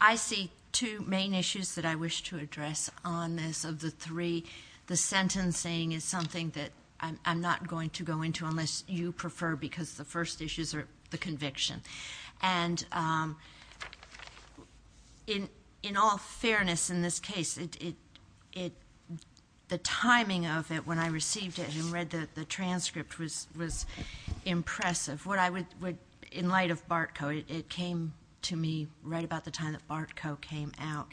I see two main issues that I wish to address on this. Of the three, the sentencing is something that I'm not going to go into unless you prefer because the first issues are the conviction. And in all fairness in this case, the timing of it when I received it and read the transcript was impressive. In light of BART code, it came to me right about the time that BART code came out.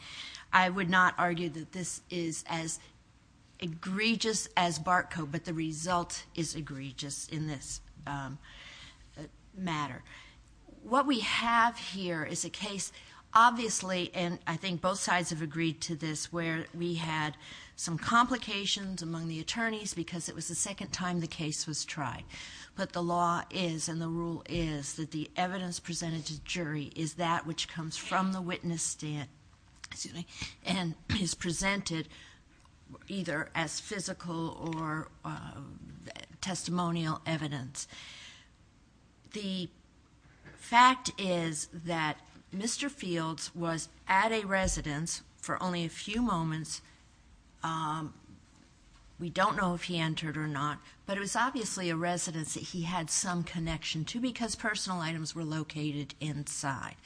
I would not argue that this is as egregious as BART code, but the result is egregious in this matter. What we have here is a case, obviously, and I think both sides have agreed to this, where we had some complications among the attorneys because it was the second time the case was tried. But the law is and the rule is that the evidence presented to jury is that which comes from the witness stand and is presented either as physical or testimonial evidence. The fact is that Mr. Fields was at a residence for only a few moments. We don't know if he entered or not, but it was obviously a residence that he had some connection to because personal items were located inside.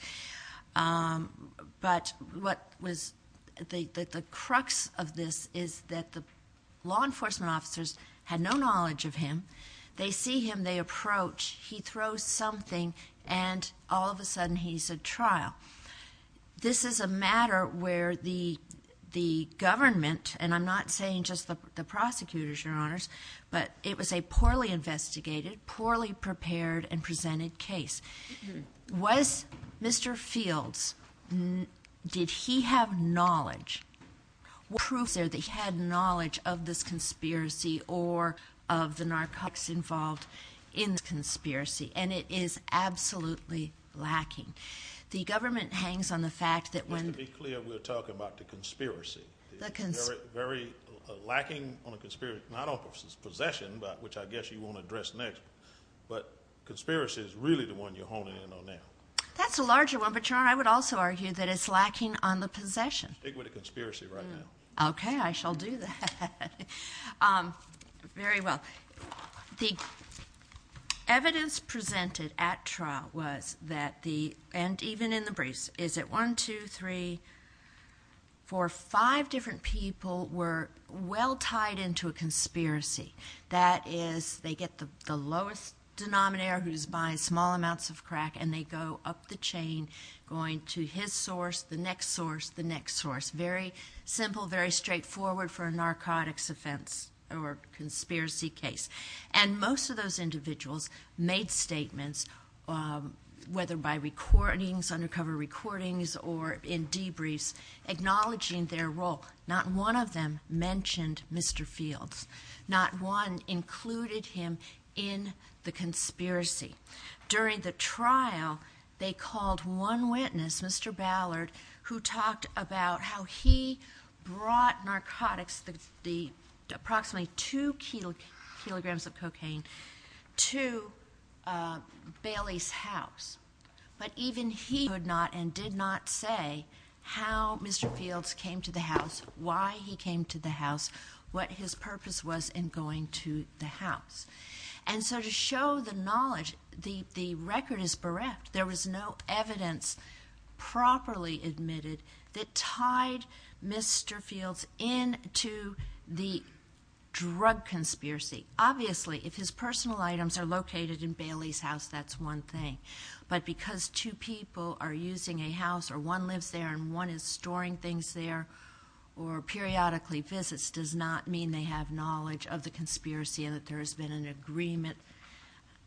But the crux of this is that the law enforcement officers had no knowledge of him. They see him, they approach, he throws something, and all of a sudden he's at trial. This is a matter where the government, and I'm not saying just the prosecutors, Your Honors, but it was a poorly investigated, poorly prepared and presented case. Was Mr. Fields, did he have knowledge or proof there that he had knowledge of this conspiracy or of the narcotics involved in the conspiracy? And it is absolutely lacking. The government hangs on the fact that when the... Just to be clear, we're talking about the conspiracy. The cons... Very lacking on a conspiracy, not on possession, which I guess you won't address next, but conspiracy is really the one you're honing in on now. That's a larger one, but Your Honor, I would also argue that it's lacking on the possession. I'm speaking with a conspiracy right now. Okay, I shall do that. Very well. The evidence presented at trial was that the, and even in the briefs, is it one, two, three, four, five different people were well tied into a conspiracy. That is, they get the lowest denominator who's buying small amounts of resource. Very simple, very straightforward for a narcotics offense or conspiracy case. And most of those individuals made statements, whether by recordings, undercover recordings or in debriefs, acknowledging their role. Not one of them mentioned Mr. Fields. Not one included him in the conspiracy. During the trial, they called one witness, Mr. Ballard, who talked about how he brought narcotics, the approximately two kilograms of cocaine, to Bailey's house. But even he would not and did not say how Mr. Fields came to the house, why he came to the house, what his purpose was in going to the house. And so to show the knowledge, the record is bereft. There was no evidence properly admitted that tied Mr. Fields into the drug conspiracy. Obviously, if his personal items are located in Bailey's house, that's one thing. But because two people are using a house or one lives there and one is storing things there or periodically visits does not mean they have knowledge of the conspiracy and that there has been an agreement.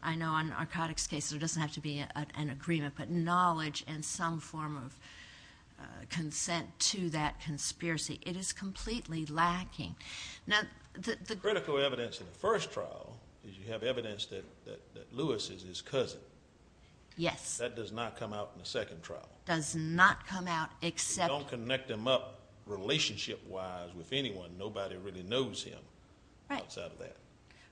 I know on narcotics cases, there doesn't have to be an agreement, but knowledge and some form of consent to that conspiracy. It is completely lacking. Now, the critical evidence in the first trial is you have evidence that Lewis is his cousin. Yes. That does not come out in the second trial. Does not come out except...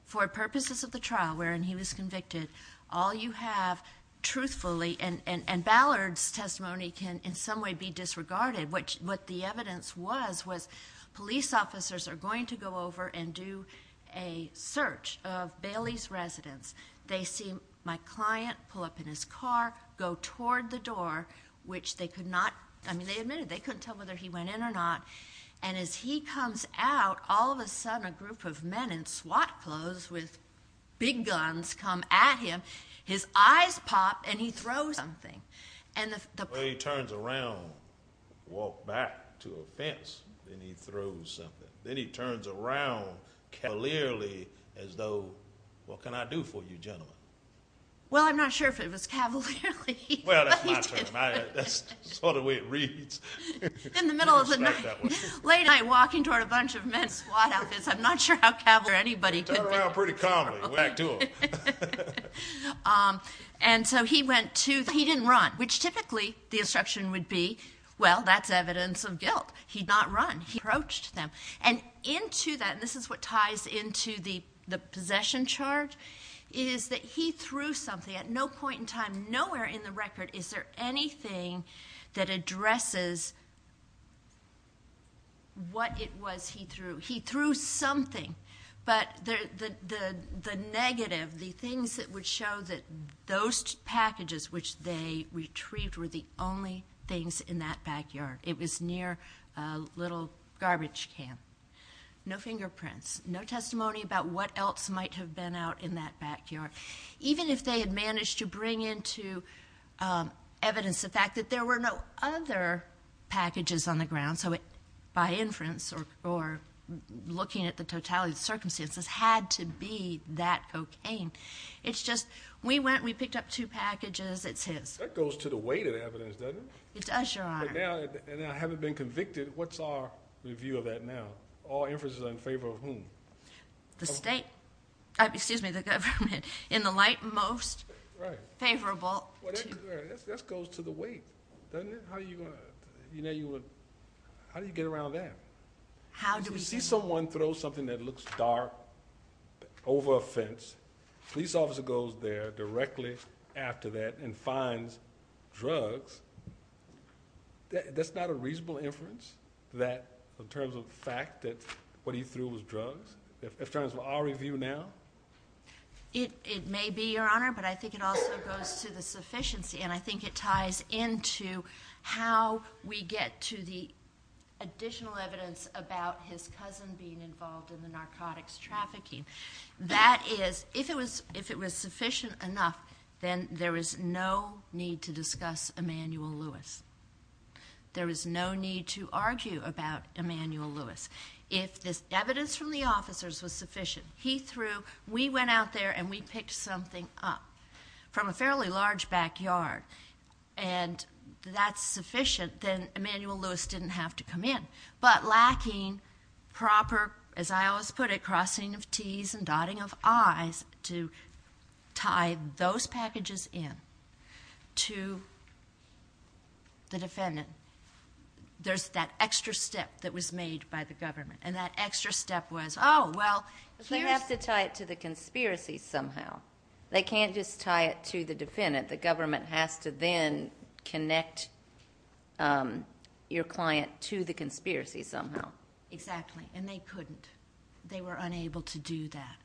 For purposes of the trial wherein he was convicted, all you have truthfully and Ballard's testimony can in some way be disregarded. What the evidence was, was police officers are going to go over and do a search of Bailey's residence. They see my client pull up in his car, go toward the door, which they could not... I mean, they admitted they couldn't tell whether he was there or not. They say, well, he's in his pajamas with big guns come at him. His eyes pop and he throws something. He turns around, walk back to a fence and he throws something. Then he turns around cavalierly as though, what can I do for you gentlemen? Well, I'm not sure if it was cavalierly. Well, that's my term. That's sort of the way it reads. In the middle of the night, late at night walking toward a bunch of men in squad outfits, I'm not sure how cavalier anybody could be. Turn around pretty calmly, back to him. And so he went to... He didn't run, which typically the instruction would be, well, that's evidence of guilt. He'd not run. He approached them. And into that, and this is what ties into the possession charge, is that he threw something at no point in time, nowhere in the record is there anything that addresses what it was he threw. He threw something, but the negative, the things that would show that those packages which they retrieved were the only things in that backyard. It was near a little garbage can. No fingerprints, no testimony about what else might have been out in that backyard. Even if they had managed to bring into evidence the fact that there were no other packages on the ground, so by inference or looking at the totality of the circumstances, had to be that cocaine. It's just, we went, we picked up two packages, it's his. That goes to the weight of the evidence, doesn't it? It does, Your Honor. And I haven't been convicted. What's our review of that now? All inferences are in favor of whom? The state. Excuse me, the government. In the light, most favorable. That goes to the weight, doesn't it? How do you get around that? How do we get around that? If you see someone throw something that looks dark, over a fence, the police officer goes there directly after that and finds drugs, that's not a reasonable inference, in terms of the fact that what he threw was drugs? In terms of our review now? It may be, Your Honor, but I think it also goes to the sufficiency, and I think it ties into how we get to the additional evidence about his cousin being involved in the narcotics trafficking. That is, if it was sufficient enough, then there is no need to discuss Emmanuel Lewis. There is no need to argue about Emmanuel Lewis. If this evidence from the officers was sufficient, he threw, we went out there and we picked something up from a fairly large backyard, and that's sufficient, then Emmanuel Lewis didn't have to come in. But lacking proper, as I always put it, crossing of Ts and dotting of Is to tie those packages in to the defendant, there's that extra step that was made by the government, and that extra step was, oh, well... They have to tie it to the conspiracy somehow. They can't just tie it to the defendant. The government has to then connect your client to the conspiracy somehow. Exactly, and they couldn't. They were unable to do that.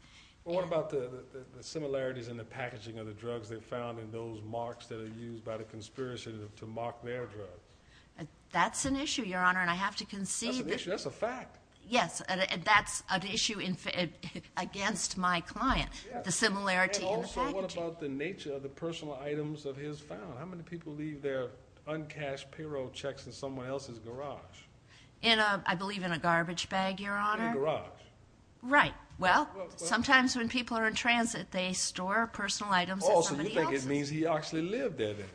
What about the similarities in the packaging of the drugs they found in those marks that are used by the conspiracy to mark their drug? That's an issue, Your Honor, and I have to conceive... That's an issue. That's a fact. Yes, and that's an issue against my client, the similarity in the packaging. And also, what about the nature of the personal items of his found? How many people leave their uncashed payroll checks in someone else's garage? I believe in a garbage bag, Your Honor. In a garage. Right. Well, sometimes when people are in transit, they store personal items in somebody else's. Oh, so you think it means he actually lived there then?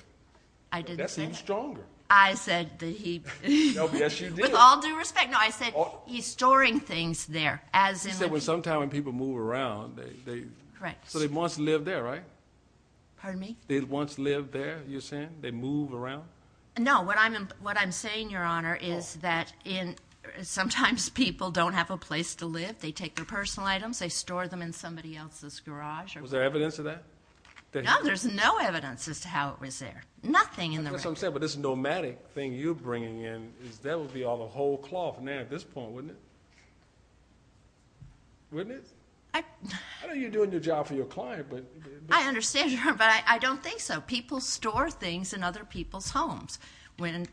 I didn't say that. That seems stronger. I said that he... No, yes, you did. With all due respect, no, I said he's storing things there, as in... You said, well, sometimes when people move around, they... Correct. So they once lived there, right? Pardon me? They once lived there, you're saying? They move around? No, what I'm saying, Your Honor, is that sometimes people don't have a place to live. They take their personal items. They store them in somebody else's garage or whatever. Was there evidence of that? No, there's no evidence as to how it was there. Nothing in the record. That's what I'm saying, but this nomadic thing you're bringing in, that would be all the whole cloth now at this point, wouldn't it? Wouldn't it? I... I know you're doing your job for your client, but... I understand, Your Honor, but I don't think so. People store things in other people's homes when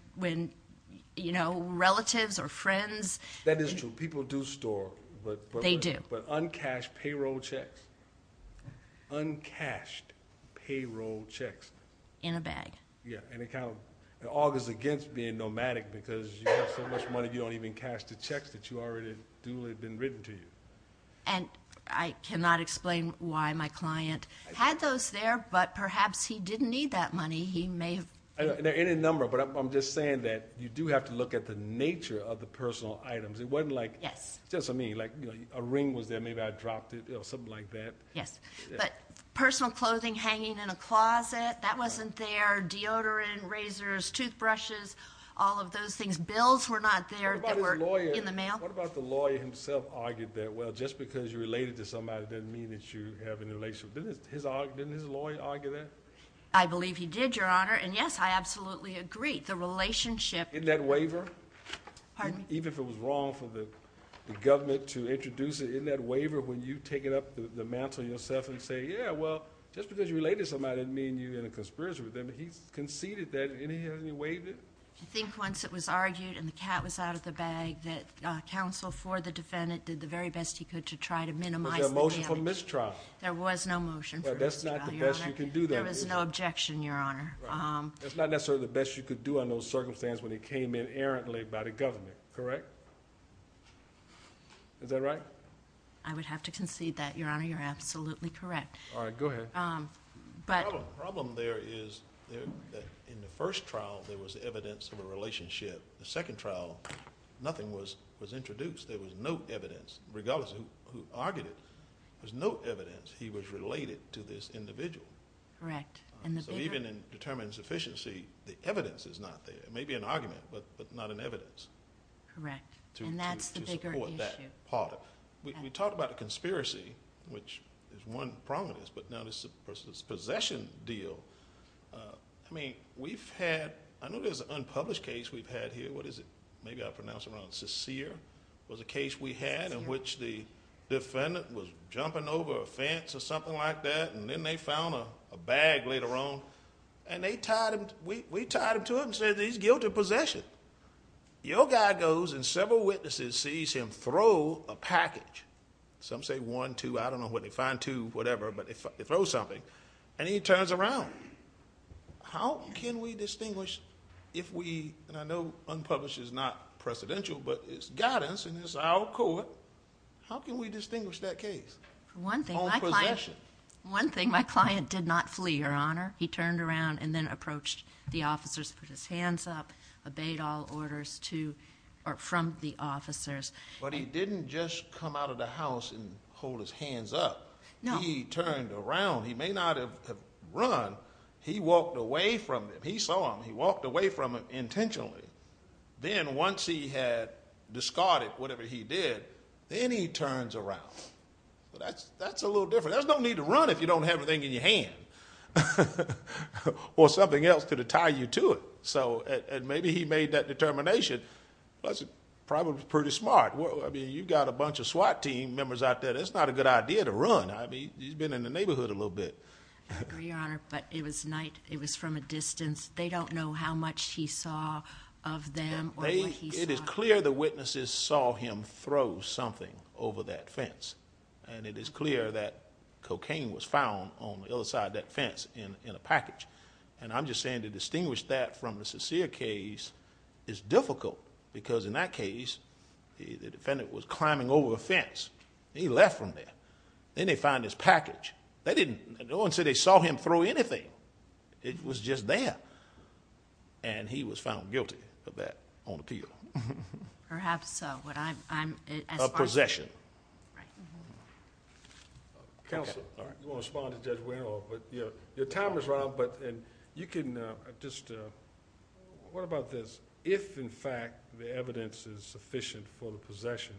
relatives or friends... That is true. People do store, but... They do. But uncashed payroll checks. Uncashed payroll checks. In a bag. Yeah, and it kind of augurs against being nomadic because you have so much money you don't even cash the checks that you already do or had been written to you. And I cannot explain why my client had those there, but perhaps he didn't need that money. He may have... There are any number, but I'm just saying that you do have to look at the nature of the personal items. It wasn't like... Yes. Just, I mean, like a ring was there. Maybe I dropped it or something like that. Yes, but personal clothing hanging in a closet, that wasn't there. Deodorant, razors, toothbrushes, all of those things. Bills were not there that were... What about his lawyer? In the mail? What about the lawyer himself argued that, well, just because you're related to somebody doesn't mean that you have a relationship. Didn't his lawyer argue that? I believe he did, Your Honor, and yes, I absolutely agree. The relationship... Isn't that waiver? Pardon me? Even if it was wrong for the government to introduce it, isn't that waiver when you take it up the mantle yourself and say, yeah, well, just because you're related to somebody doesn't mean you're in a conspiracy with them. He conceded that, and he hasn't waived it? I think once it was argued and the cat was out of the bag that counsel for the defendant did the very best he could to try to minimize the damage. Was there a motion for mistrial? There was no motion for mistrial, Your Honor. Well, that's not the best you can do though, is it? There was no objection, Your Honor. That's not necessarily the best you could do under those circumstances when it came in errantly by the government, correct? Is that right? I would have to concede that, Your Honor. You're absolutely correct. All right. Go ahead. The problem there is in the first trial there was evidence of a relationship. The second trial, nothing was introduced. There was no evidence. Regardless of who argued it, there was no evidence he was related to this individual. Correct. Even in determined sufficiency, the evidence is not there. It may be an argument, but not an evidence... Correct.... to support that part. We talked about a conspiracy, which is one prominence, but now this possession deal. I mean, we've had... I know there's an unpublished case we've had here. What is it? Maybe I pronounced it wrong. Seseer was a case we had in which the defendant was jumping over a fence or something like that. Then they found a bag later on. We tied him to it and said he's guilty of possession. Your guy goes and several witnesses sees him throw a package, some say one, two, I don't know what they find, two, whatever, but they throw something and he turns around. How can we distinguish if we... and I know unpublished is not precedential, but it's guidance and it's our court. How can we distinguish that case? One thing...... on possession. One thing, my client did not flee, Your Honor. He turned around and then approached the officers, put his hands up, obeyed all orders from the officers. But he didn't just come out of the house and hold his hands up. No. He turned around. He may not have run. He walked away from them. He saw them. He walked away from them intentionally. Then once he had discarded whatever he did, then he turns around. That's a little different. There's no need to run if you don't have everything in your hand. Or something else to tie you to it. Maybe he made that determination. That's probably pretty smart. You've got a bunch of SWAT team members out there. That's not a good idea to run. He's been in the neighborhood a little bit. I agree, Your Honor. But it was night. It was from a distance. They don't know how much he saw of them or what he saw. It is clear the witnesses saw him throw something over that fence. It is clear that cocaine was found on the other side of that fence in a package. I'm just saying to distinguish that from the Saseer case is difficult because in that case, the defendant was climbing over a fence. He left from there. Then they found his package. No one said they saw him throw anything. It was just there. He was found guilty of that on appeal. Perhaps so. What I'm... Possession. Right. Counsel. You want to respond to Judge Warehoff. Your time is up. You can just... What about this? If, in fact, the evidence is sufficient for the possession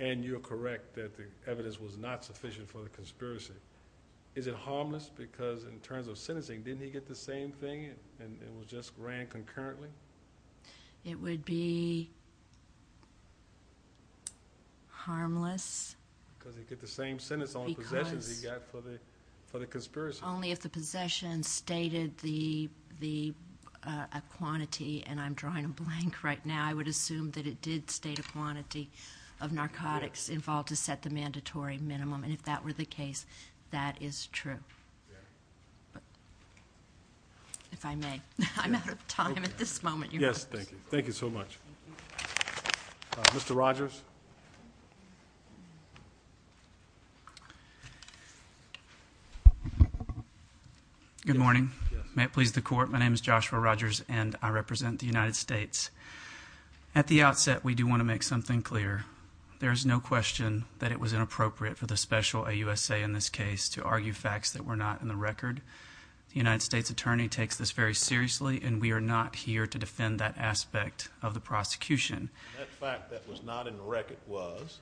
and you're correct that the evidence was not sufficient for the conspiracy, is it harmless? Because in terms of sentencing, didn't he get the same thing and it just ran concurrently? It would be harmless. Because he'd get the same sentence on possessions he got for the conspiracy. Only if the possession stated a quantity, and I'm drawing a blank right now, I would assume that it did state a quantity of narcotics involved to set the mandatory minimum. If that were the case, that is true. If I may, I'm out of time at this moment. Yes. Thank you. Thank you so much. Mr. Rogers. Good morning. May it please the Court. My name is Joshua Rogers and I represent the United States. At the outset, we do want to make something clear. There is no question that it was inappropriate for the special AUSA in this case to argue facts that were not in the record. The United States Attorney takes this very seriously and we are not here to defend that aspect of the prosecution. And that fact that was not in the record was?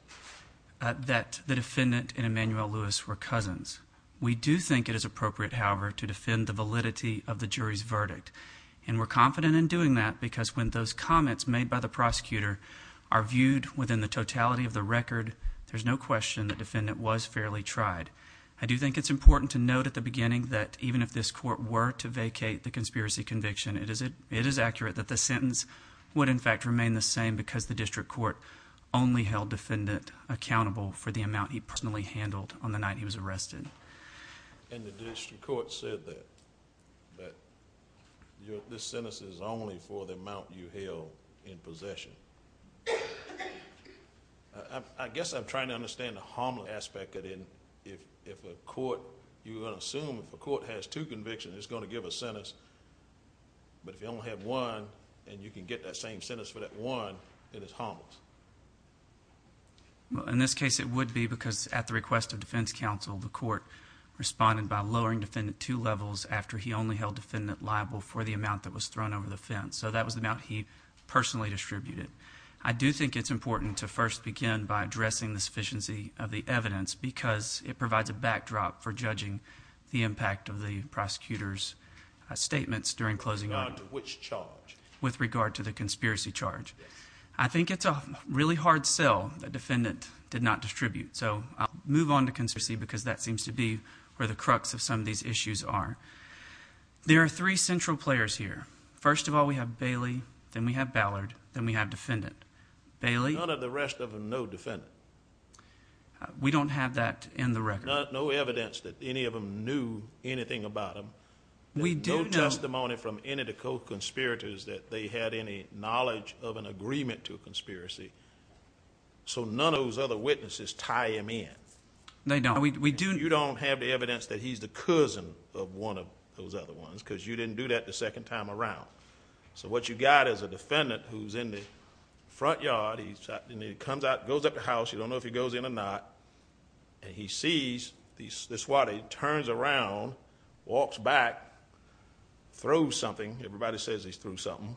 That the defendant and Emmanuel Lewis were cousins. We do think it is appropriate, however, to defend the validity of the jury's verdict. And we're confident in doing that because when those comments made by the prosecutor are viewed within the totality of the record, there's no question the defendant was fairly tried. I do think it's important to note at the beginning that even if this court were to vacate the conspiracy conviction, it is accurate that the district court only held the defendant accountable for the amount he personally handled on the night he was arrested. And the district court said that this sentence is only for the amount you held in possession. I guess I'm trying to understand the harmless aspect of it. If a court... you're going to assume if a court has two convictions, it's going to give a sentence, but if you only have one and you can get that same sentence for that one, then it's harmless. In this case, it would be because at the request of defense counsel, the court responded by lowering defendant two levels after he only held defendant liable for the amount that was thrown over the fence. So that was the amount he personally distributed. I do think it's important to first begin by addressing the sufficiency of the evidence because it provides a backdrop for judging the impact of the prosecutor's statements during closing... With regard to which charge? With regard to the conspiracy charge. I think it's a really hard sell that defendant did not distribute. So I'll move on to conspiracy because that seems to be where the crux of some of these issues are. There are three central players here. First of all, we have Bailey. Then we have Ballard. Then we have defendant. Bailey... None of the rest of them know defendant. We don't have that in the record. No evidence that any of them knew anything about him. We do know... No testimony from any of the co-conspirators that they had any knowledge of an agreement to a conspiracy. So none of those other witnesses tie him in. They don't. We do... You don't have the evidence that he's the cousin of one of those other ones because you didn't do that the second time around. So what you got is a defendant who's in the front yard. He comes out, goes up the house. You don't know if he goes in or not. And he sees the squad. He turns around, walks back, throws something. Everybody says he threw something.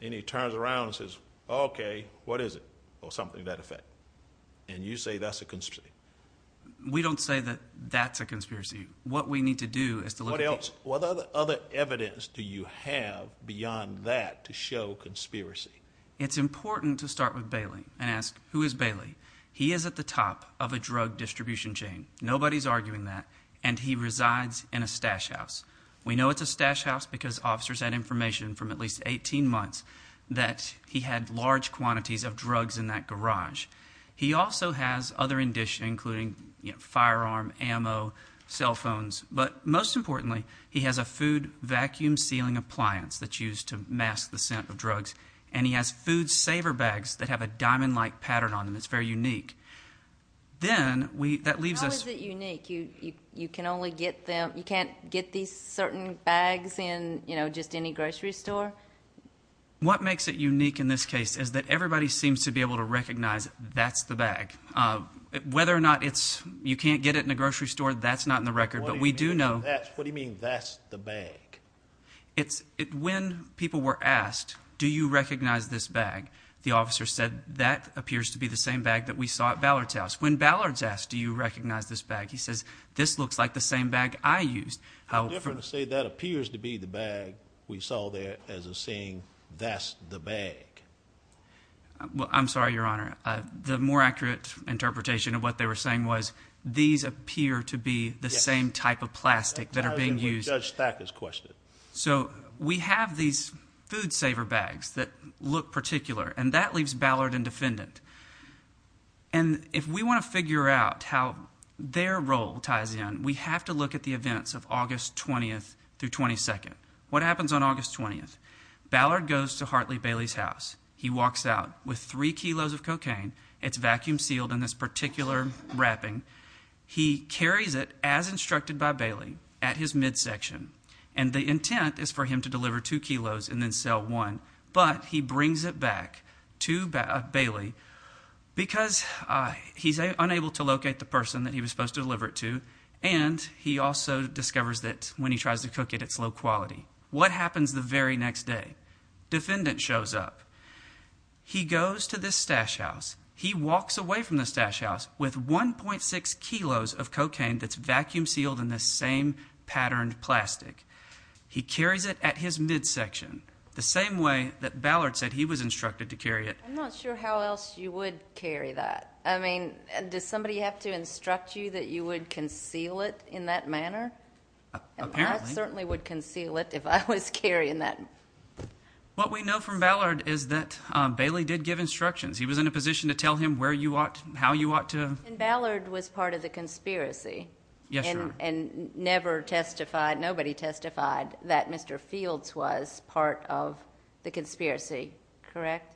And he turns around and says, okay, what is it? Or something to that effect. And you say that's a conspiracy. We don't say that that's a conspiracy. What we need to do is... What else? What other evidence do you have beyond that to show conspiracy? It's important to start with Bailey and ask, who is Bailey? He is at the top of a drug distribution chain. Nobody's arguing that. And he resides in a stash house. We know it's a stash house because officers had information from at least 18 months that he had large quantities of drugs in that garage. He also has other... including firearm, ammo, cell phones. But most importantly, he has a food vacuum sealing appliance that's used to mask the scent of drugs. And he has food saver bags that have a diamond-like pattern on them. And it's very unique. Then, that leaves us... How is it unique? You can only get them... you can't get these certain bags in, you know, just any grocery store? What makes it unique in this case is that everybody seems to be able to recognize, that's the bag. Whether or not it's... you can't get it in a grocery store, that's not in the record. But we do know... What do you mean, that's the bag? When people were asked, do you recognize this bag? The officer said, that appears to be the same bag that we saw at Ballard's house. When Ballard's asked, do you recognize this bag? He says, this looks like the same bag I used. How different to say, that appears to be the bag we saw there, as in saying, that's the bag? Well, I'm sorry, Your Honor. The more accurate interpretation of what they were saying was, these appear to be the same type of plastic that are being used. That ties in with Judge Thacker's question. So, we have these food saver bags that look particular, and that leaves Ballard indefendent. And if we want to figure out how their role ties in, we have to look at the events of August 20th through 22nd. What happens on August 20th? Ballard goes to Hartley Bailey's house. He walks out with three kilos of cocaine. It's vacuum sealed in this particular wrapping. He carries it, as instructed by Bailey, at his midsection. And the intent is for him to deliver two kilos and then sell one. But he brings it back to Bailey, because he's unable to locate the person that he was supposed to deliver it to, and he also discovers that when he tries to cook it, it's low quality. What happens the very next day? Defendant shows up. He goes to this stash house. It's vacuum sealed in this same patterned plastic. He carries it at his midsection, the same way that Ballard said he was instructed to carry it. I'm not sure how else you would carry that. I mean, does somebody have to instruct you that you would conceal it in that manner? Apparently. I certainly would conceal it if I was carrying that. What we know from Ballard is that Bailey did give instructions. He was in a position to tell him where you ought, how you ought to... And Ballard was part of the conspiracy? Yes, Your Honor. And nobody testified that Mr. Fields was part of the conspiracy, correct?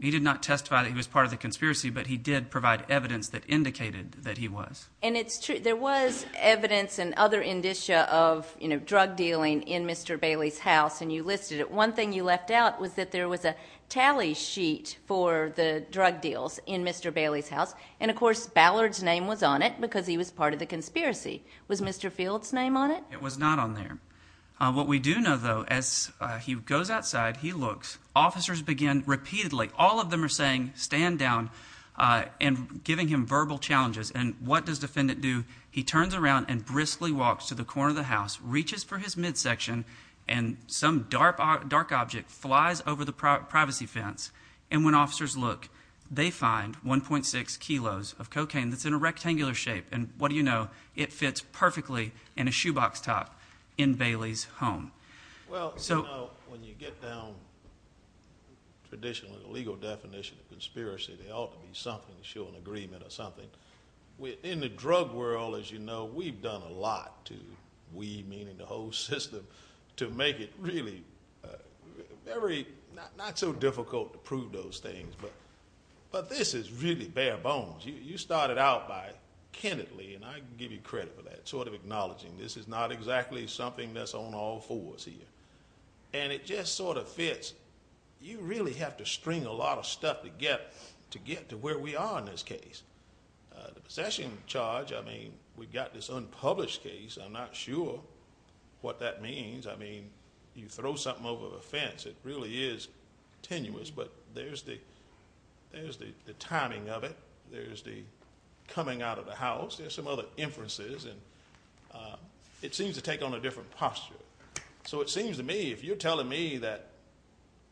He did not testify that he was part of the conspiracy, but he did provide evidence that indicated that he was. And there was evidence and other indicia of drug dealing in Mr. Bailey's house, and you listed it. One thing you left out was that there was a tally sheet for the drug deals in Mr. Bailey's house. And, of course, Ballard's name was on it because he was part of the conspiracy. Was Mr. Fields' name on it? It was not on there. What we do know, though, as he goes outside, he looks, officers begin repeatedly, all of them are saying, stand down, and giving him verbal challenges. And what does the defendant do? He turns around and briskly walks to the corner of the house, reaches for his midsection, and some dark object flies over the privacy fence. And when officers look, they find 1.6 kilos of cocaine that's in a rectangular shape. And what do you know? It fits perfectly in a shoebox top in Bailey's home. Well, you know, when you get down traditionally the legal definition of conspiracy, there ought to be something to show an agreement or something. In the drug world, as you know, we've done a lot to, we meaning the whole system, to make it really very, not so difficult to prove those things. But this is really bare bones. You started out by, candidly, and I give you credit for that, sort of acknowledging this is not exactly something that's on all fours here. And it just sort of fits. You really have to string a lot of stuff together to get to where we are in this case. The possession charge, I mean, we've got this unpublished case. I'm not sure what that means. I mean, you throw something over the fence. It really is tenuous. But there's the timing of it. There's the coming out of the house. There's some other inferences. And it seems to take on a different posture. So it seems to me, if you're telling me that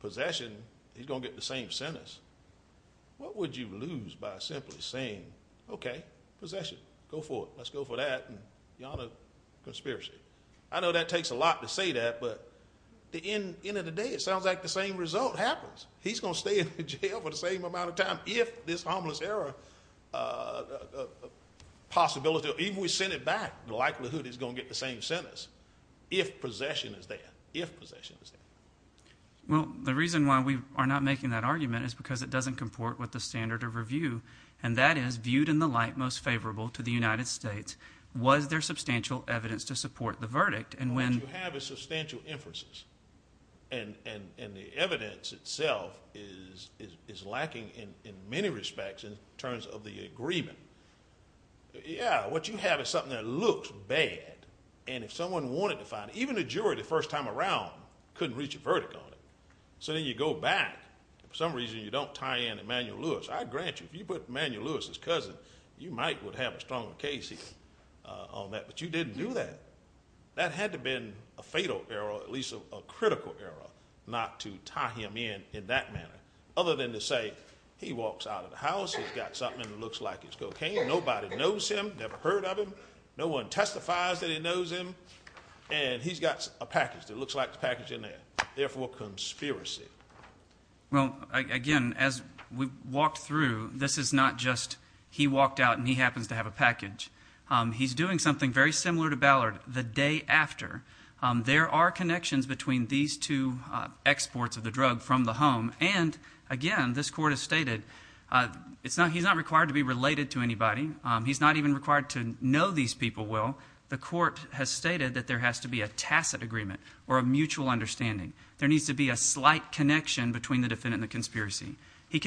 possession, he's going to get the same sentence, what would you lose by simply saying, okay, possession, go for it, let's go for that. Beyond a conspiracy. I know that takes a lot to say that, but at the end of the day, it sounds like the same result happens. He's going to stay in jail for the same amount of time if this harmless error possibility, even if we send it back, the likelihood he's going to get the same sentence. If possession is there. If possession is there. Well, the reason why we are not making that argument is because it doesn't comport with the standard of review. And that is, viewed in the light most favorable to the United States, was there substantial evidence to support the verdict? What you have is substantial inferences. And the evidence itself is lacking in many respects in terms of the agreement. Yeah, what you have is something that looks bad. And if someone wanted to find it, even a jury the first time around couldn't reach a verdict on it. So then you go back, and for some reason you don't tie in Emmanuel Lewis. I grant you, if you put Emmanuel Lewis as cousin, you might have a stronger case on that. But you didn't do that. That had to have been a fatal error, or at least a critical error, not to tie him in in that manner. Other than to say, he walks out of the house, he's got something that looks like it's cocaine, nobody knows him, never heard of him, no one testifies that he knows him, and he's got a package that looks like the package in there. Therefore, conspiracy. Well, again, as we've walked through, this is not just, he walked out and he happens to have a package. He's doing something very similar to Ballard the day after. There are connections between these two exports of the drug from the home. And, again, this court has stated, he's not required to be related to anybody. He's not even required to know these people well. The court has stated that there has to be a tacit agreement or a mutual understanding. There needs to be a slight connection between the defendant and the conspiracy. If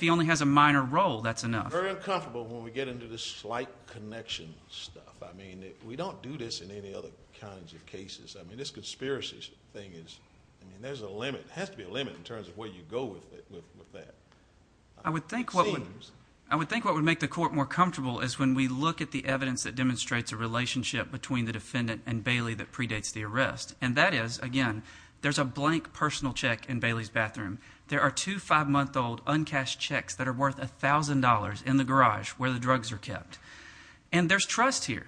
he only has a minor role, that's enough. Very uncomfortable when we get into this slight connection stuff. I mean, we don't do this in any other kinds of cases. I mean, this conspiracy thing, there's a limit. There has to be a limit in terms of where you go with that. I would think what would make the court more comfortable is when we look at the evidence that demonstrates a relationship between the defendant and Bailey that predates the arrest. And that is, again, there's a blank personal check in Bailey's bathroom. There are two five-month-old uncashed checks that are worth $1,000 in the garage where the drugs are kept. And there's trust here.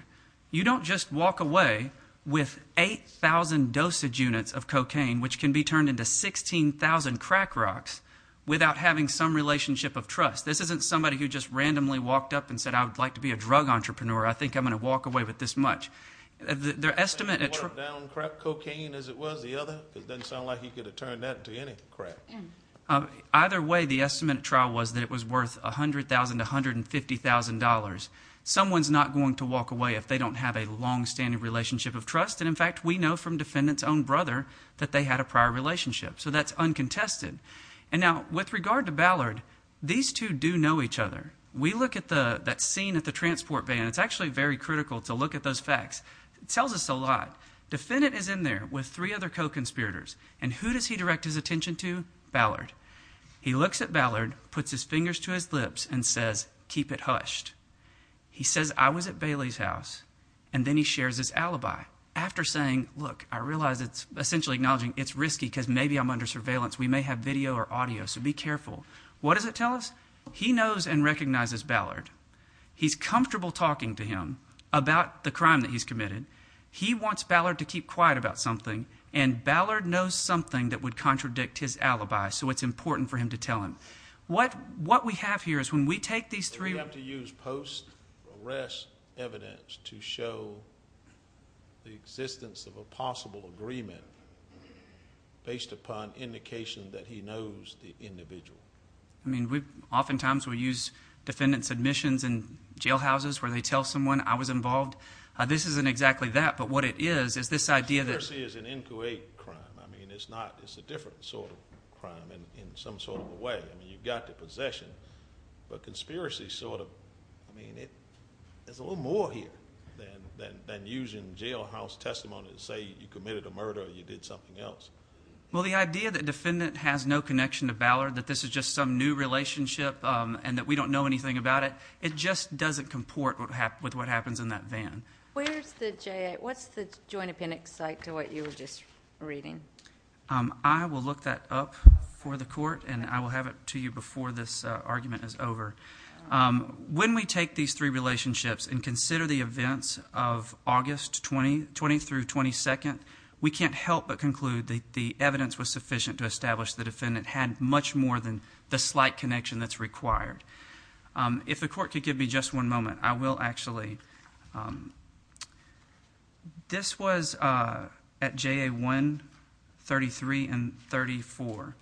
You don't just walk away with 8,000 dosage units of cocaine, which can be turned into 16,000 crack rocks, without having some relationship of trust. This isn't somebody who just randomly walked up and said, I would like to be a drug entrepreneur. I think I'm going to walk away with this much. Their estimate... One of them downed crack cocaine, as it was, the other? It doesn't sound like he could have turned that into any crack. Either way, the estimate at trial was that it was worth $100,000 to $150,000. Someone's not going to walk away if they don't have a long-standing relationship of trust. And, in fact, we know from the defendant's own brother that they had a prior relationship, so that's uncontested. And now, with regard to Ballard, these two do know each other. We look at that scene at the transport van. It's actually very critical to look at those facts. It tells us a lot. Defendant is in there with three other co-conspirators. And who does he direct his attention to? Ballard. He looks at Ballard, puts his fingers to his lips, and says, keep it hushed. He says, I was at Bailey's house. And then he shares his alibi. After saying, look, I realize it's essentially acknowledging it's risky because maybe I'm under surveillance. We may have video or audio, so be careful. What does it tell us? He knows and recognizes Ballard. He's comfortable talking to him about the crime that he's committed. He wants Ballard to keep quiet about something. And Ballard knows something that would contradict his alibi, so it's important for him to tell him. What we have here is when we take these three... We have to use post-arrest evidence to show the existence of a possible agreement based upon indication that he knows the individual. I mean, oftentimes we use defendant's admissions in jailhouses where they tell someone, I was involved. This isn't exactly that, but what it is, is this idea that... Conspiracy is an inquiry crime. I mean, it's a different sort of crime in some sort of a way. I mean, you've got the possession, but conspiracy sort of... I mean, there's a little more here than using jailhouse testimony to say you committed a murder or you did something else. Well, the idea that defendant has no connection to Ballard, that this is just some new relationship and that we don't know anything about it, it just doesn't comport with what happens in that van. Where's the J... What's the joint appendix like to what you were just reading? I will look that up for the court, and I will have it to you before this argument is over. When we take these three relationships and consider the events of August 20 through 22, we can't help but conclude that the evidence was sufficient to establish the defendant had much more than the slight connection that's required. If the court could give me just one moment, I will actually... This was at J.A. 1, 33, and 34,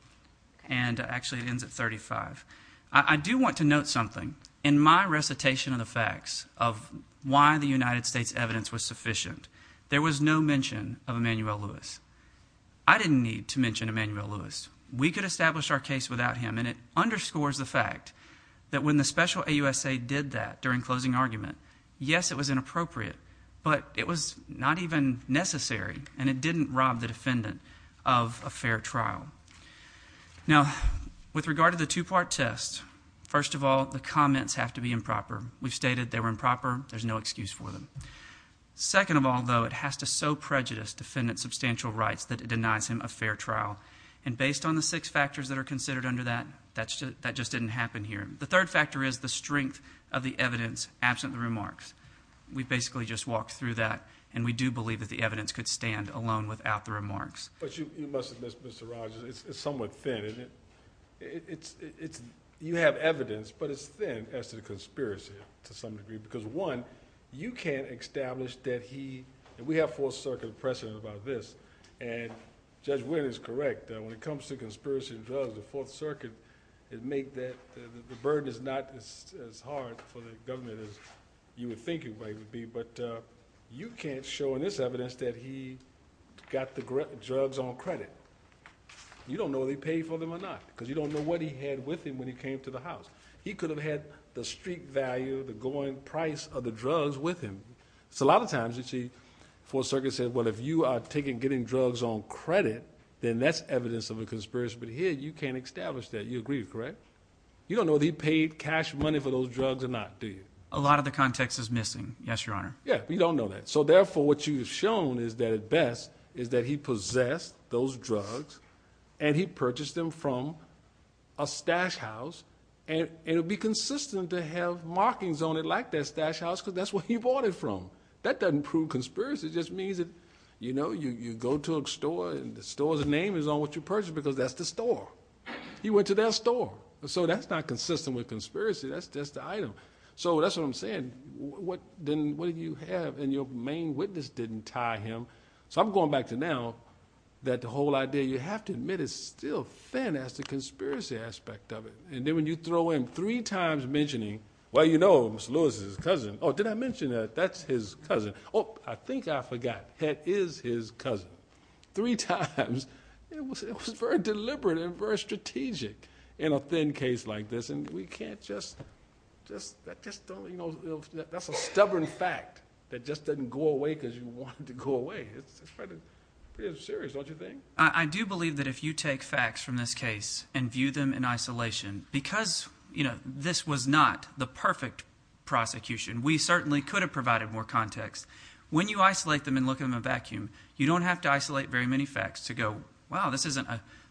and actually it ends at 35. I do want to note something. In my recitation of the facts of why the United States' evidence was sufficient, there was no mention of Emanuel Lewis. I didn't need to mention Emanuel Lewis. We could establish our case without him, and it underscores the fact that when the special AUSA did that during closing argument, yes, it was inappropriate, but it was not even necessary, and it didn't rob the defendant of a fair trial. Now, with regard to the two-part test, first of all, the comments have to be improper. We've stated they were improper. There's no excuse for them. Second of all, though, it has to so prejudice defendant's substantial rights that it denies him a fair trial, and based on the six factors that are considered under that, that just didn't happen here. The third factor is the strength of the evidence, absent the remarks. We basically just walked through that, and we do believe that the evidence could stand alone without the remarks. But you must admit, Mr. Rogers, it's somewhat thin. You have evidence, but it's thin as to the conspiracy, to some degree, because, one, you can't establish that he... We have full circuit precedent about this, and Judge Wynn is correct. When it comes to conspiracy and drugs, the Fourth Circuit has made that... The burden is not as hard for the government as you would think it might be, but you can't show in this evidence that he got the drugs on credit. You don't know if he paid for them or not, because you don't know what he had with him when he came to the house. He could have had the street value, the going price of the drugs with him. A lot of times, you see, the Fourth Circuit said, well, if you are getting drugs on credit, then that's evidence of a conspiracy. But here, you can't establish that. You agree, correct? You don't know if he paid cash money for those drugs or not, do you? A lot of the context is missing, yes, Your Honor. Yeah, but you don't know that. So, therefore, what you've shown is that, at best, is that he possessed those drugs, and he purchased them from a stash house, and it would be consistent to have markings on it like that stash house, because that's what he bought it from. That doesn't prove conspiracy. It just means that, you know, you go to a store, and the store's name is on what you purchased because that's the store. You went to their store. So, that's not consistent with conspiracy. That's just the item. So, that's what I'm saying. What did you have? And your main witness didn't tie him. So, I'm going back to now that the whole idea, you have to admit, is still thin as the conspiracy aspect of it. And then when you throw in three times mentioning, well, you know, Mr. Lewis is his cousin. Oh, did I mention that that's his cousin? Oh, I think I forgot. That is his cousin. Three times. It was very deliberate and very strategic in a thin case like this, and we can't just, that's a stubborn fact that just doesn't go away because you want it to go away. It's pretty serious, don't you think? I do believe that if you take facts from this case and view them in isolation, because, you know, this was not the perfect prosecution. We certainly could have provided more context. When you isolate them and look at them in a vacuum, you don't have to isolate very many facts to go, wow, this isn't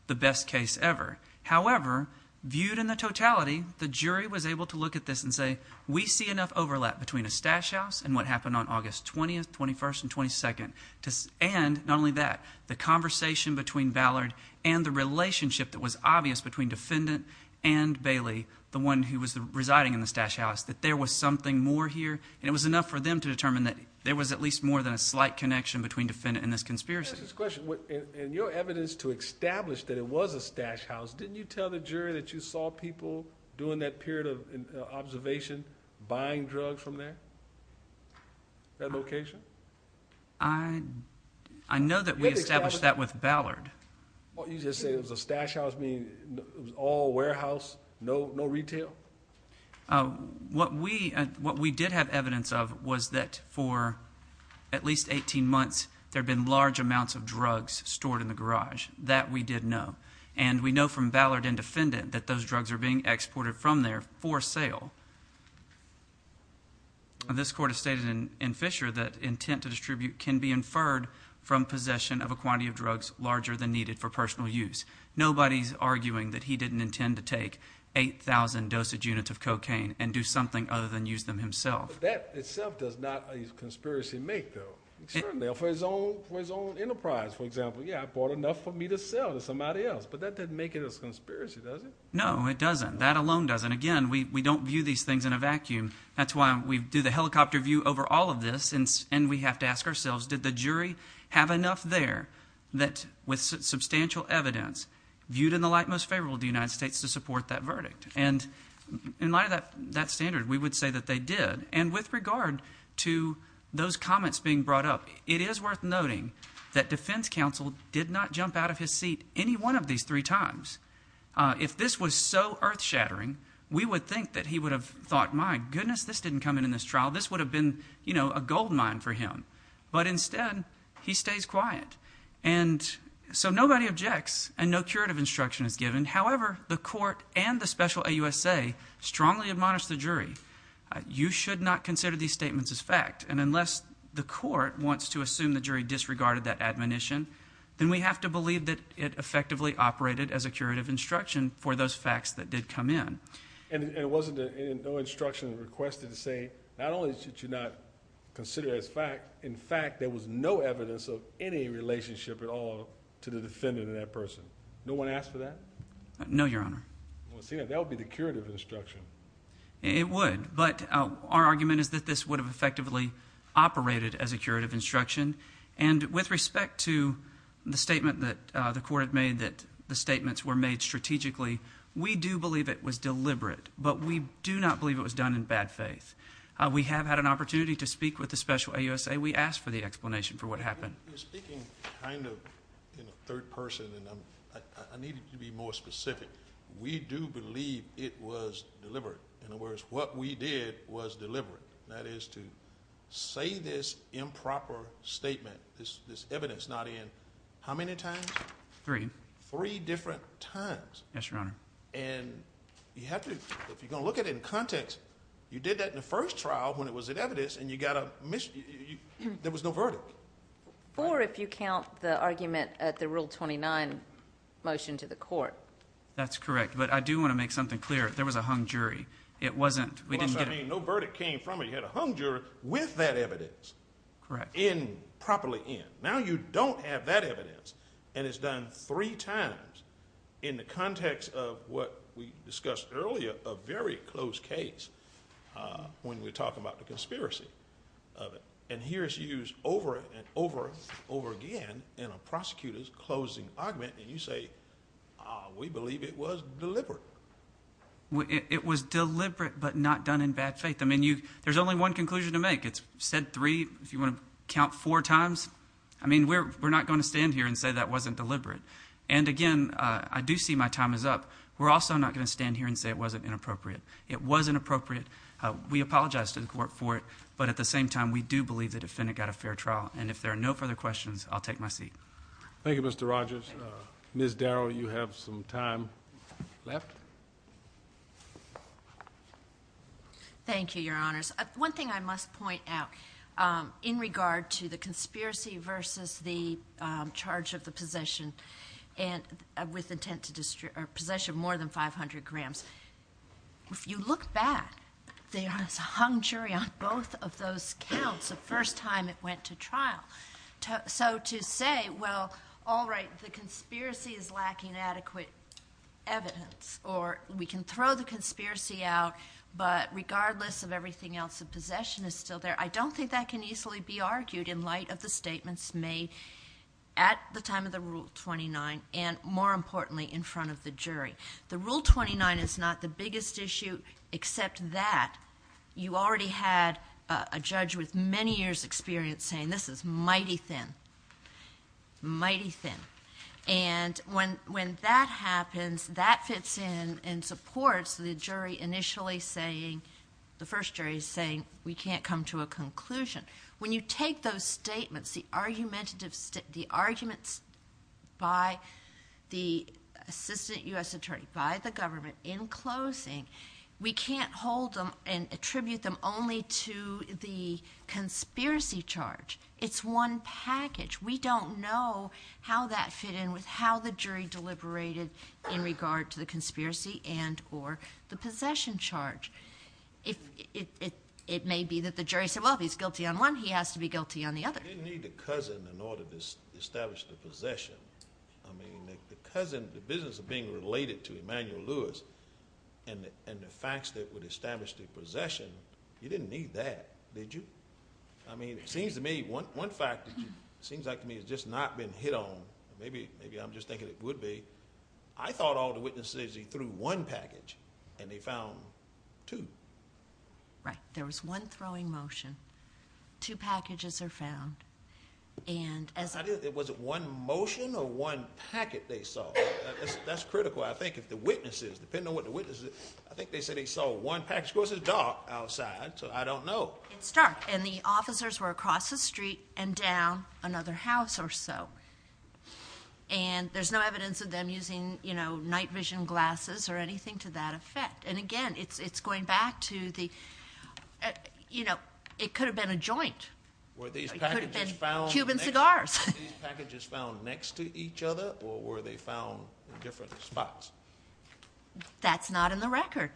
the best case ever. However, viewed in the totality, the jury was able to look at this and say, we see enough overlap between a stash house and what happened on August 20th, 21st, and 22nd. And, not only that, the conversation between Ballard and the relationship that was obvious between Defendant and Bailey, the one who was residing in the stash house, that there was something more here, and it was enough for them to determine that there was at least more than a slight connection between Defendant and this conspiracy. In your evidence to establish that it was a stash house, didn't you tell the jury that you saw people during that period of observation buying drugs from there? That location? I know that we established that with Ballard. You just say it was a stash house, all warehouse, no retail? What we did have evidence of was that for at least 18 months, there have been large amounts of drugs stored in the garage. That we did know. And we know from Ballard and Defendant that those drugs are being exported from there for sale. This court has stated in Fisher that intent to distribute can be inferred from possession of a quantity of drugs larger than needed for personal use. Nobody's arguing that he didn't intend to take 8,000 dosage units of cocaine and do something other than use them himself. That itself does not a conspiracy make, though. For his own enterprise, for example, yeah, I bought enough for me to sell to somebody else, but that doesn't make it a conspiracy, does it? No, it doesn't. That alone doesn't. Again, we don't view these things in a vacuum. That's why we do the helicopter view over all of this, and we have to ask ourselves, did the jury have enough there that with substantial evidence viewed in the light most favorable to the United States to support that verdict? And in light of that standard, we would say that they did. And with regard to those comments being brought up, it is worth noting that defense counsel did not jump out of his seat any one of these three times. If this was so earth-shattering, we would think that he would have thought, my goodness, this didn't come in in this trial. This would have been, you know, a gold mine for him. But instead, he stays quiet. And so nobody objects, and no curative instruction is given. However, the court and the special AUSA strongly admonish the jury, you should not consider these statements as fact. And unless the court wants to assume the jury disregarded that admonition, then we have to believe that it effectively operated as a curative instruction for those facts that did come in. And it wasn't a no instruction requested to say not only should you not consider it as fact, in fact, there was no evidence of any relationship at all to the defendant or that person. No one asked for that? No, Your Honor. Well, see, that would be the curative instruction. It would, but our argument is that this would have effectively operated as a curative instruction. And with respect to the statement that the court had made that the statements were made strategically, we do believe it was deliberate, but we do not believe it was done in bad faith. We have had an opportunity to speak with the special AUSA. We asked for the explanation for what happened. Speaking kind of in a third person, I need to be more specific. We do believe it was deliberate. In other words, what we did was deliberate. That is to say this improper statement, this evidence not in how many times? Three. Three different times. Yes, Your Honor. If you're going to look at it in context, you did that in the first trial when it was in evidence, and you got a there was no verdict. Or if you count the argument at the Rule 29 motion to the court. That's correct, but I do want to make something clear. There was a hung jury. It wasn't. We didn't get a... No verdict came from it. You had a hung jury with that evidence. Correct. Properly in. Now you don't have that evidence, and it's done three times in the context of what we discussed earlier, a very close case when we talk about the conspiracy of it. Here it's used over and over again in a prosecutor's closing argument, and you say we believe it was deliberate. It was deliberate, but not done in bad faith. There's only one conclusion to make. It's said three. If you want to count four times, we're not going to stand here and say that wasn't deliberate. And again, I do see my time is up. We're also not going to stand here and say it wasn't inappropriate. It was inappropriate. We apologize to the court for it, but at the same time, we do believe the defendant got a fair trial, and if there are no further questions, I'll take my seat. Thank you, Mr. Rogers. Ms. Darrow, you have some time left. Thank you, Your Honors. One thing I must point out in regard to the charge of the possession with intent to possession of more than 500 grams, if you look back, there is a hung jury on both of those counts the first time it went to trial. So to say, well, all right, the conspiracy is lacking adequate evidence, or we can throw the conspiracy out, but regardless of everything else, the possession is still there, I don't think that can easily be argued in light of the statements made at the time of the Rule 29 and, more importantly, in front of the jury. The Rule 29 is not the biggest issue, except that you already had a judge with many years' experience saying, this is mighty thin. Mighty thin. And when that happens, that fits in and supports the jury initially saying, the first jury saying, we can't come to a conclusion. When you take those statements, the arguments the assistant U.S. attorney, by the government, in closing, we can't hold them and attribute them only to the conspiracy charge. It's one package. We don't know how that fit in with how the jury deliberated in regard to the conspiracy and or the possession charge. It may be that the jury said, well, if he's guilty on one, he has to be guilty on the other. You didn't need the cousin in order to establish the possession. I mean, the cousin, the business of being related to Emmanuel Lewis and the facts that would establish the possession, you didn't need that, did you? I mean, it seems to me, one fact that seems like to me has just not been hit on, maybe I'm just thinking it would be, I thought all the witnesses, he threw one package and they found two. Right. There was one throwing motion. Two packages are found. Was it one motion or one packet they saw? That's critical. I think if the witnesses, depending on what the witnesses, I think they said they saw one package. Of course, it's dark outside, so I don't know. It's dark, and the officers were across the street and down another house or so. There's no evidence of them using night vision glasses or anything to that effect. And again, it's going back to the, you know, it could have been a joint. It could have been Cuban cigars. Were these packages found next to each other, or were they found in different spots? That's not in the record.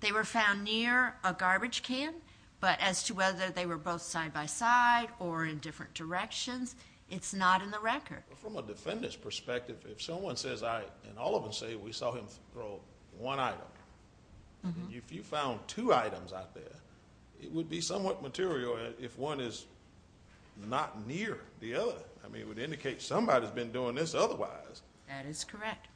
They were found near a garbage can, but as to whether they were both side-by-side or in different directions, it's not in the record. From a defendant's perspective, if someone says, and all of them say, we saw him throw one item, if you found two items out there, it would be somewhat material if one is not near the other. It would indicate somebody's been doing this otherwise. That is correct.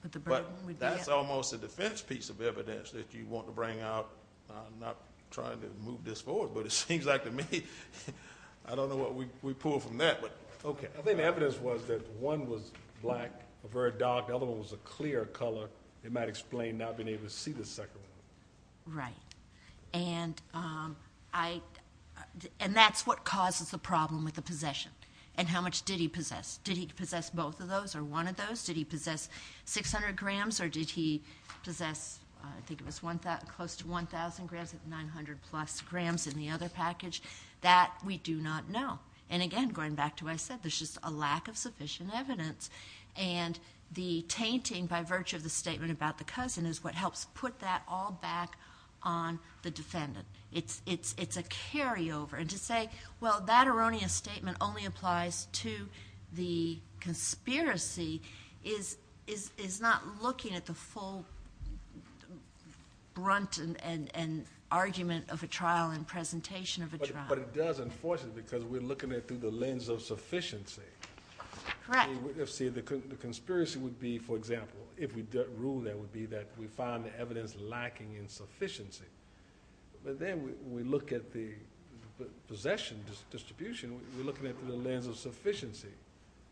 That's almost a defense piece of evidence that you want to bring out. I'm not trying to move this forward, but it seems like to me, I don't know what we pulled from that. I think the evidence was that one was black, the other one was a clear color. It might explain not being able to see the second one. Right. That's what causes the problem with the possession. How much did he possess? Did he possess both of those, or one of those? Did he possess 600 grams, or did he possess close to 1,000 grams, or 900 plus grams in the other package? That we do not know. Again, going back to what I said, there's just a lack of sufficient evidence, and the tainting by virtue of the statement about the cousin is what helps put that all back on the defendant. It's a carryover. To say, well, that erroneous statement only applies to the conspiracy is not looking at the full brunt and argument of a trial and presentation of a trial. But it does, unfortunately, because we're looking at it through the lens of sufficiency. Correct. The conspiracy would be, for example, if we ruled that would be that we found the evidence lacking in sufficiency. But then we look at the possession distribution, we're looking at it through the lens of sufficiency.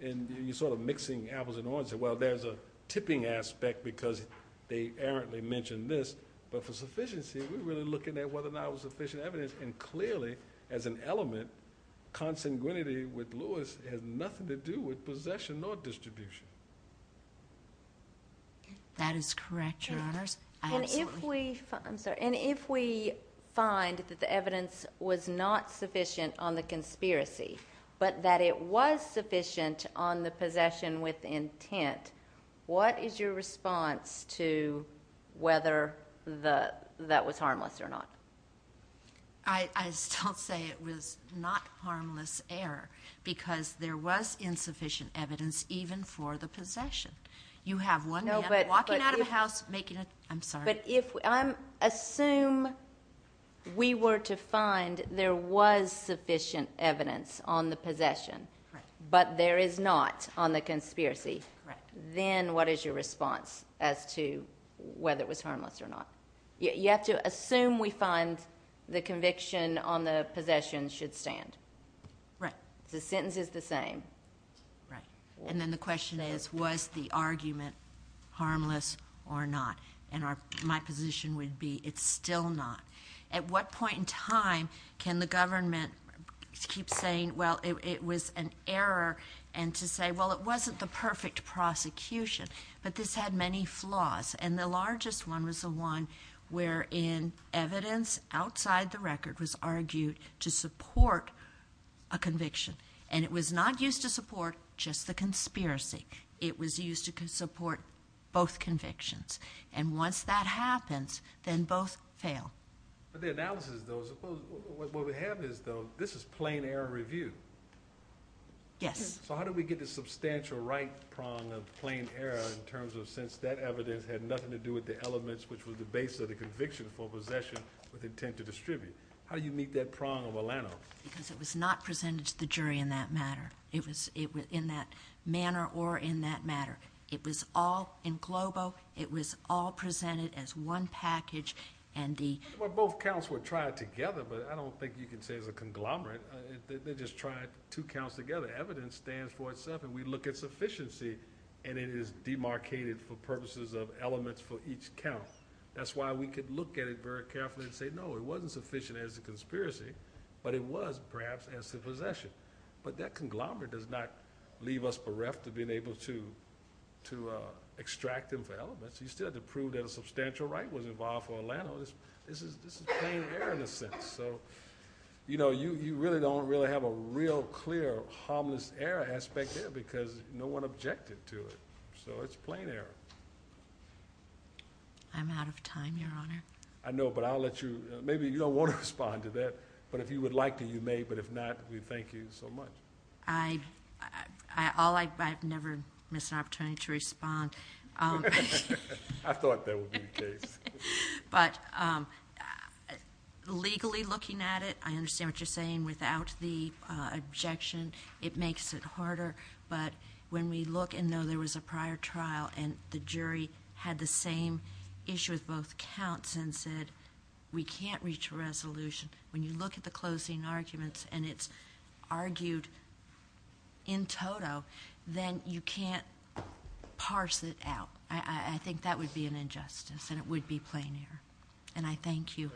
You're sort of mixing apples and oranges. There's a tipping aspect because they errantly mention this, but for sufficiency, we're really looking at whether or not it was sufficient evidence, and clearly as an element, consanguinity with Lewis has nothing to do with possession nor distribution. That is correct, Your Honors. And if we find that the evidence was not sufficient on the conspiracy, but that it was sufficient on the possession with intent, what is your response to whether that was harmless or not? I still say it was not harmless error because there was insufficient evidence even for the possession. You have one man walking out of a house making a... I'm sorry. Assume we were to find there was sufficient evidence on the possession, but there is not on the conspiracy. Then what is your response as to whether it was harmless or not? You have to assume we find the conviction on the possession should stand. The sentence is the same. And then the question is was the argument harmless or not? And my position would be it's still not. At what point in time can the government keep saying, well, it was an error, and to say, well, it wasn't the perfect prosecution. But this had many flaws. And the largest one was the one wherein evidence outside the record was argued to support a conviction. And it was not used to support just the conspiracy. It was used to support both convictions. And once that happens, then both fail. But the analysis, though, what we have is, though, this is plain error review. Yes. So how do we get this substantial right prong of plain error in terms of since that evidence had nothing to do with the elements which were the base of the conviction for possession with intent to distribute? How do you meet that prong of Milano? Because it was not presented to the jury in that matter. In that manner or in that matter. It was all in globo. It was all presented as one package. Well, both counts were tried together, but I don't think you can say it's a conglomerate. They just tried two counts together. Evidence stands for itself and we look at sufficiency and it is demarcated for purposes of elements for each count. That's why we could look at it very carefully and say, no, it wasn't sufficient as a conspiracy, but it was perhaps as to possession. But that conglomerate does not leave us bereft of being able to extract them for elements. You still have to prove that a substantial right was involved for Milano. This is plain error in a sense. You really don't have a real clear harmless error aspect because no one objected to it. It's plain error. I'm out of time, Your Honor. I know, but I'll let you maybe you don't want to respond to that, but if you would like to, you may, but if not, we thank you so much. I've never missed an opportunity to respond. I thought that would be the case. But legally looking at it, I understand what you're saying. Without the objection, it makes it harder, but when we look and know there was a prior trial and the jury had the same issue with both counts and said, we can't reach a resolution. When you look at the closing arguments and it's argued in toto, then you can't parse it out. I think that would be an injustice and it would be plain error. I thank you.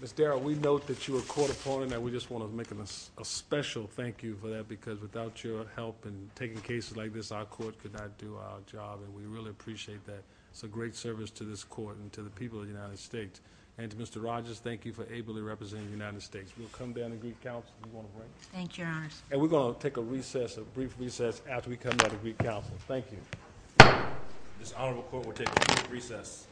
Ms. Darrow, we note that you're a court opponent and we just want to make a special thank you for that because without your help in taking cases like this, our court could not do our job and we really appreciate that. It's a great service to this court and to the people of the United States. Mr. Rogers, thank you for ably representing the United States. We'll come down to Greek Council if you want a break. Thank you, Your Honor. We're going to take a brief recess after we This honorable court will take a brief recess.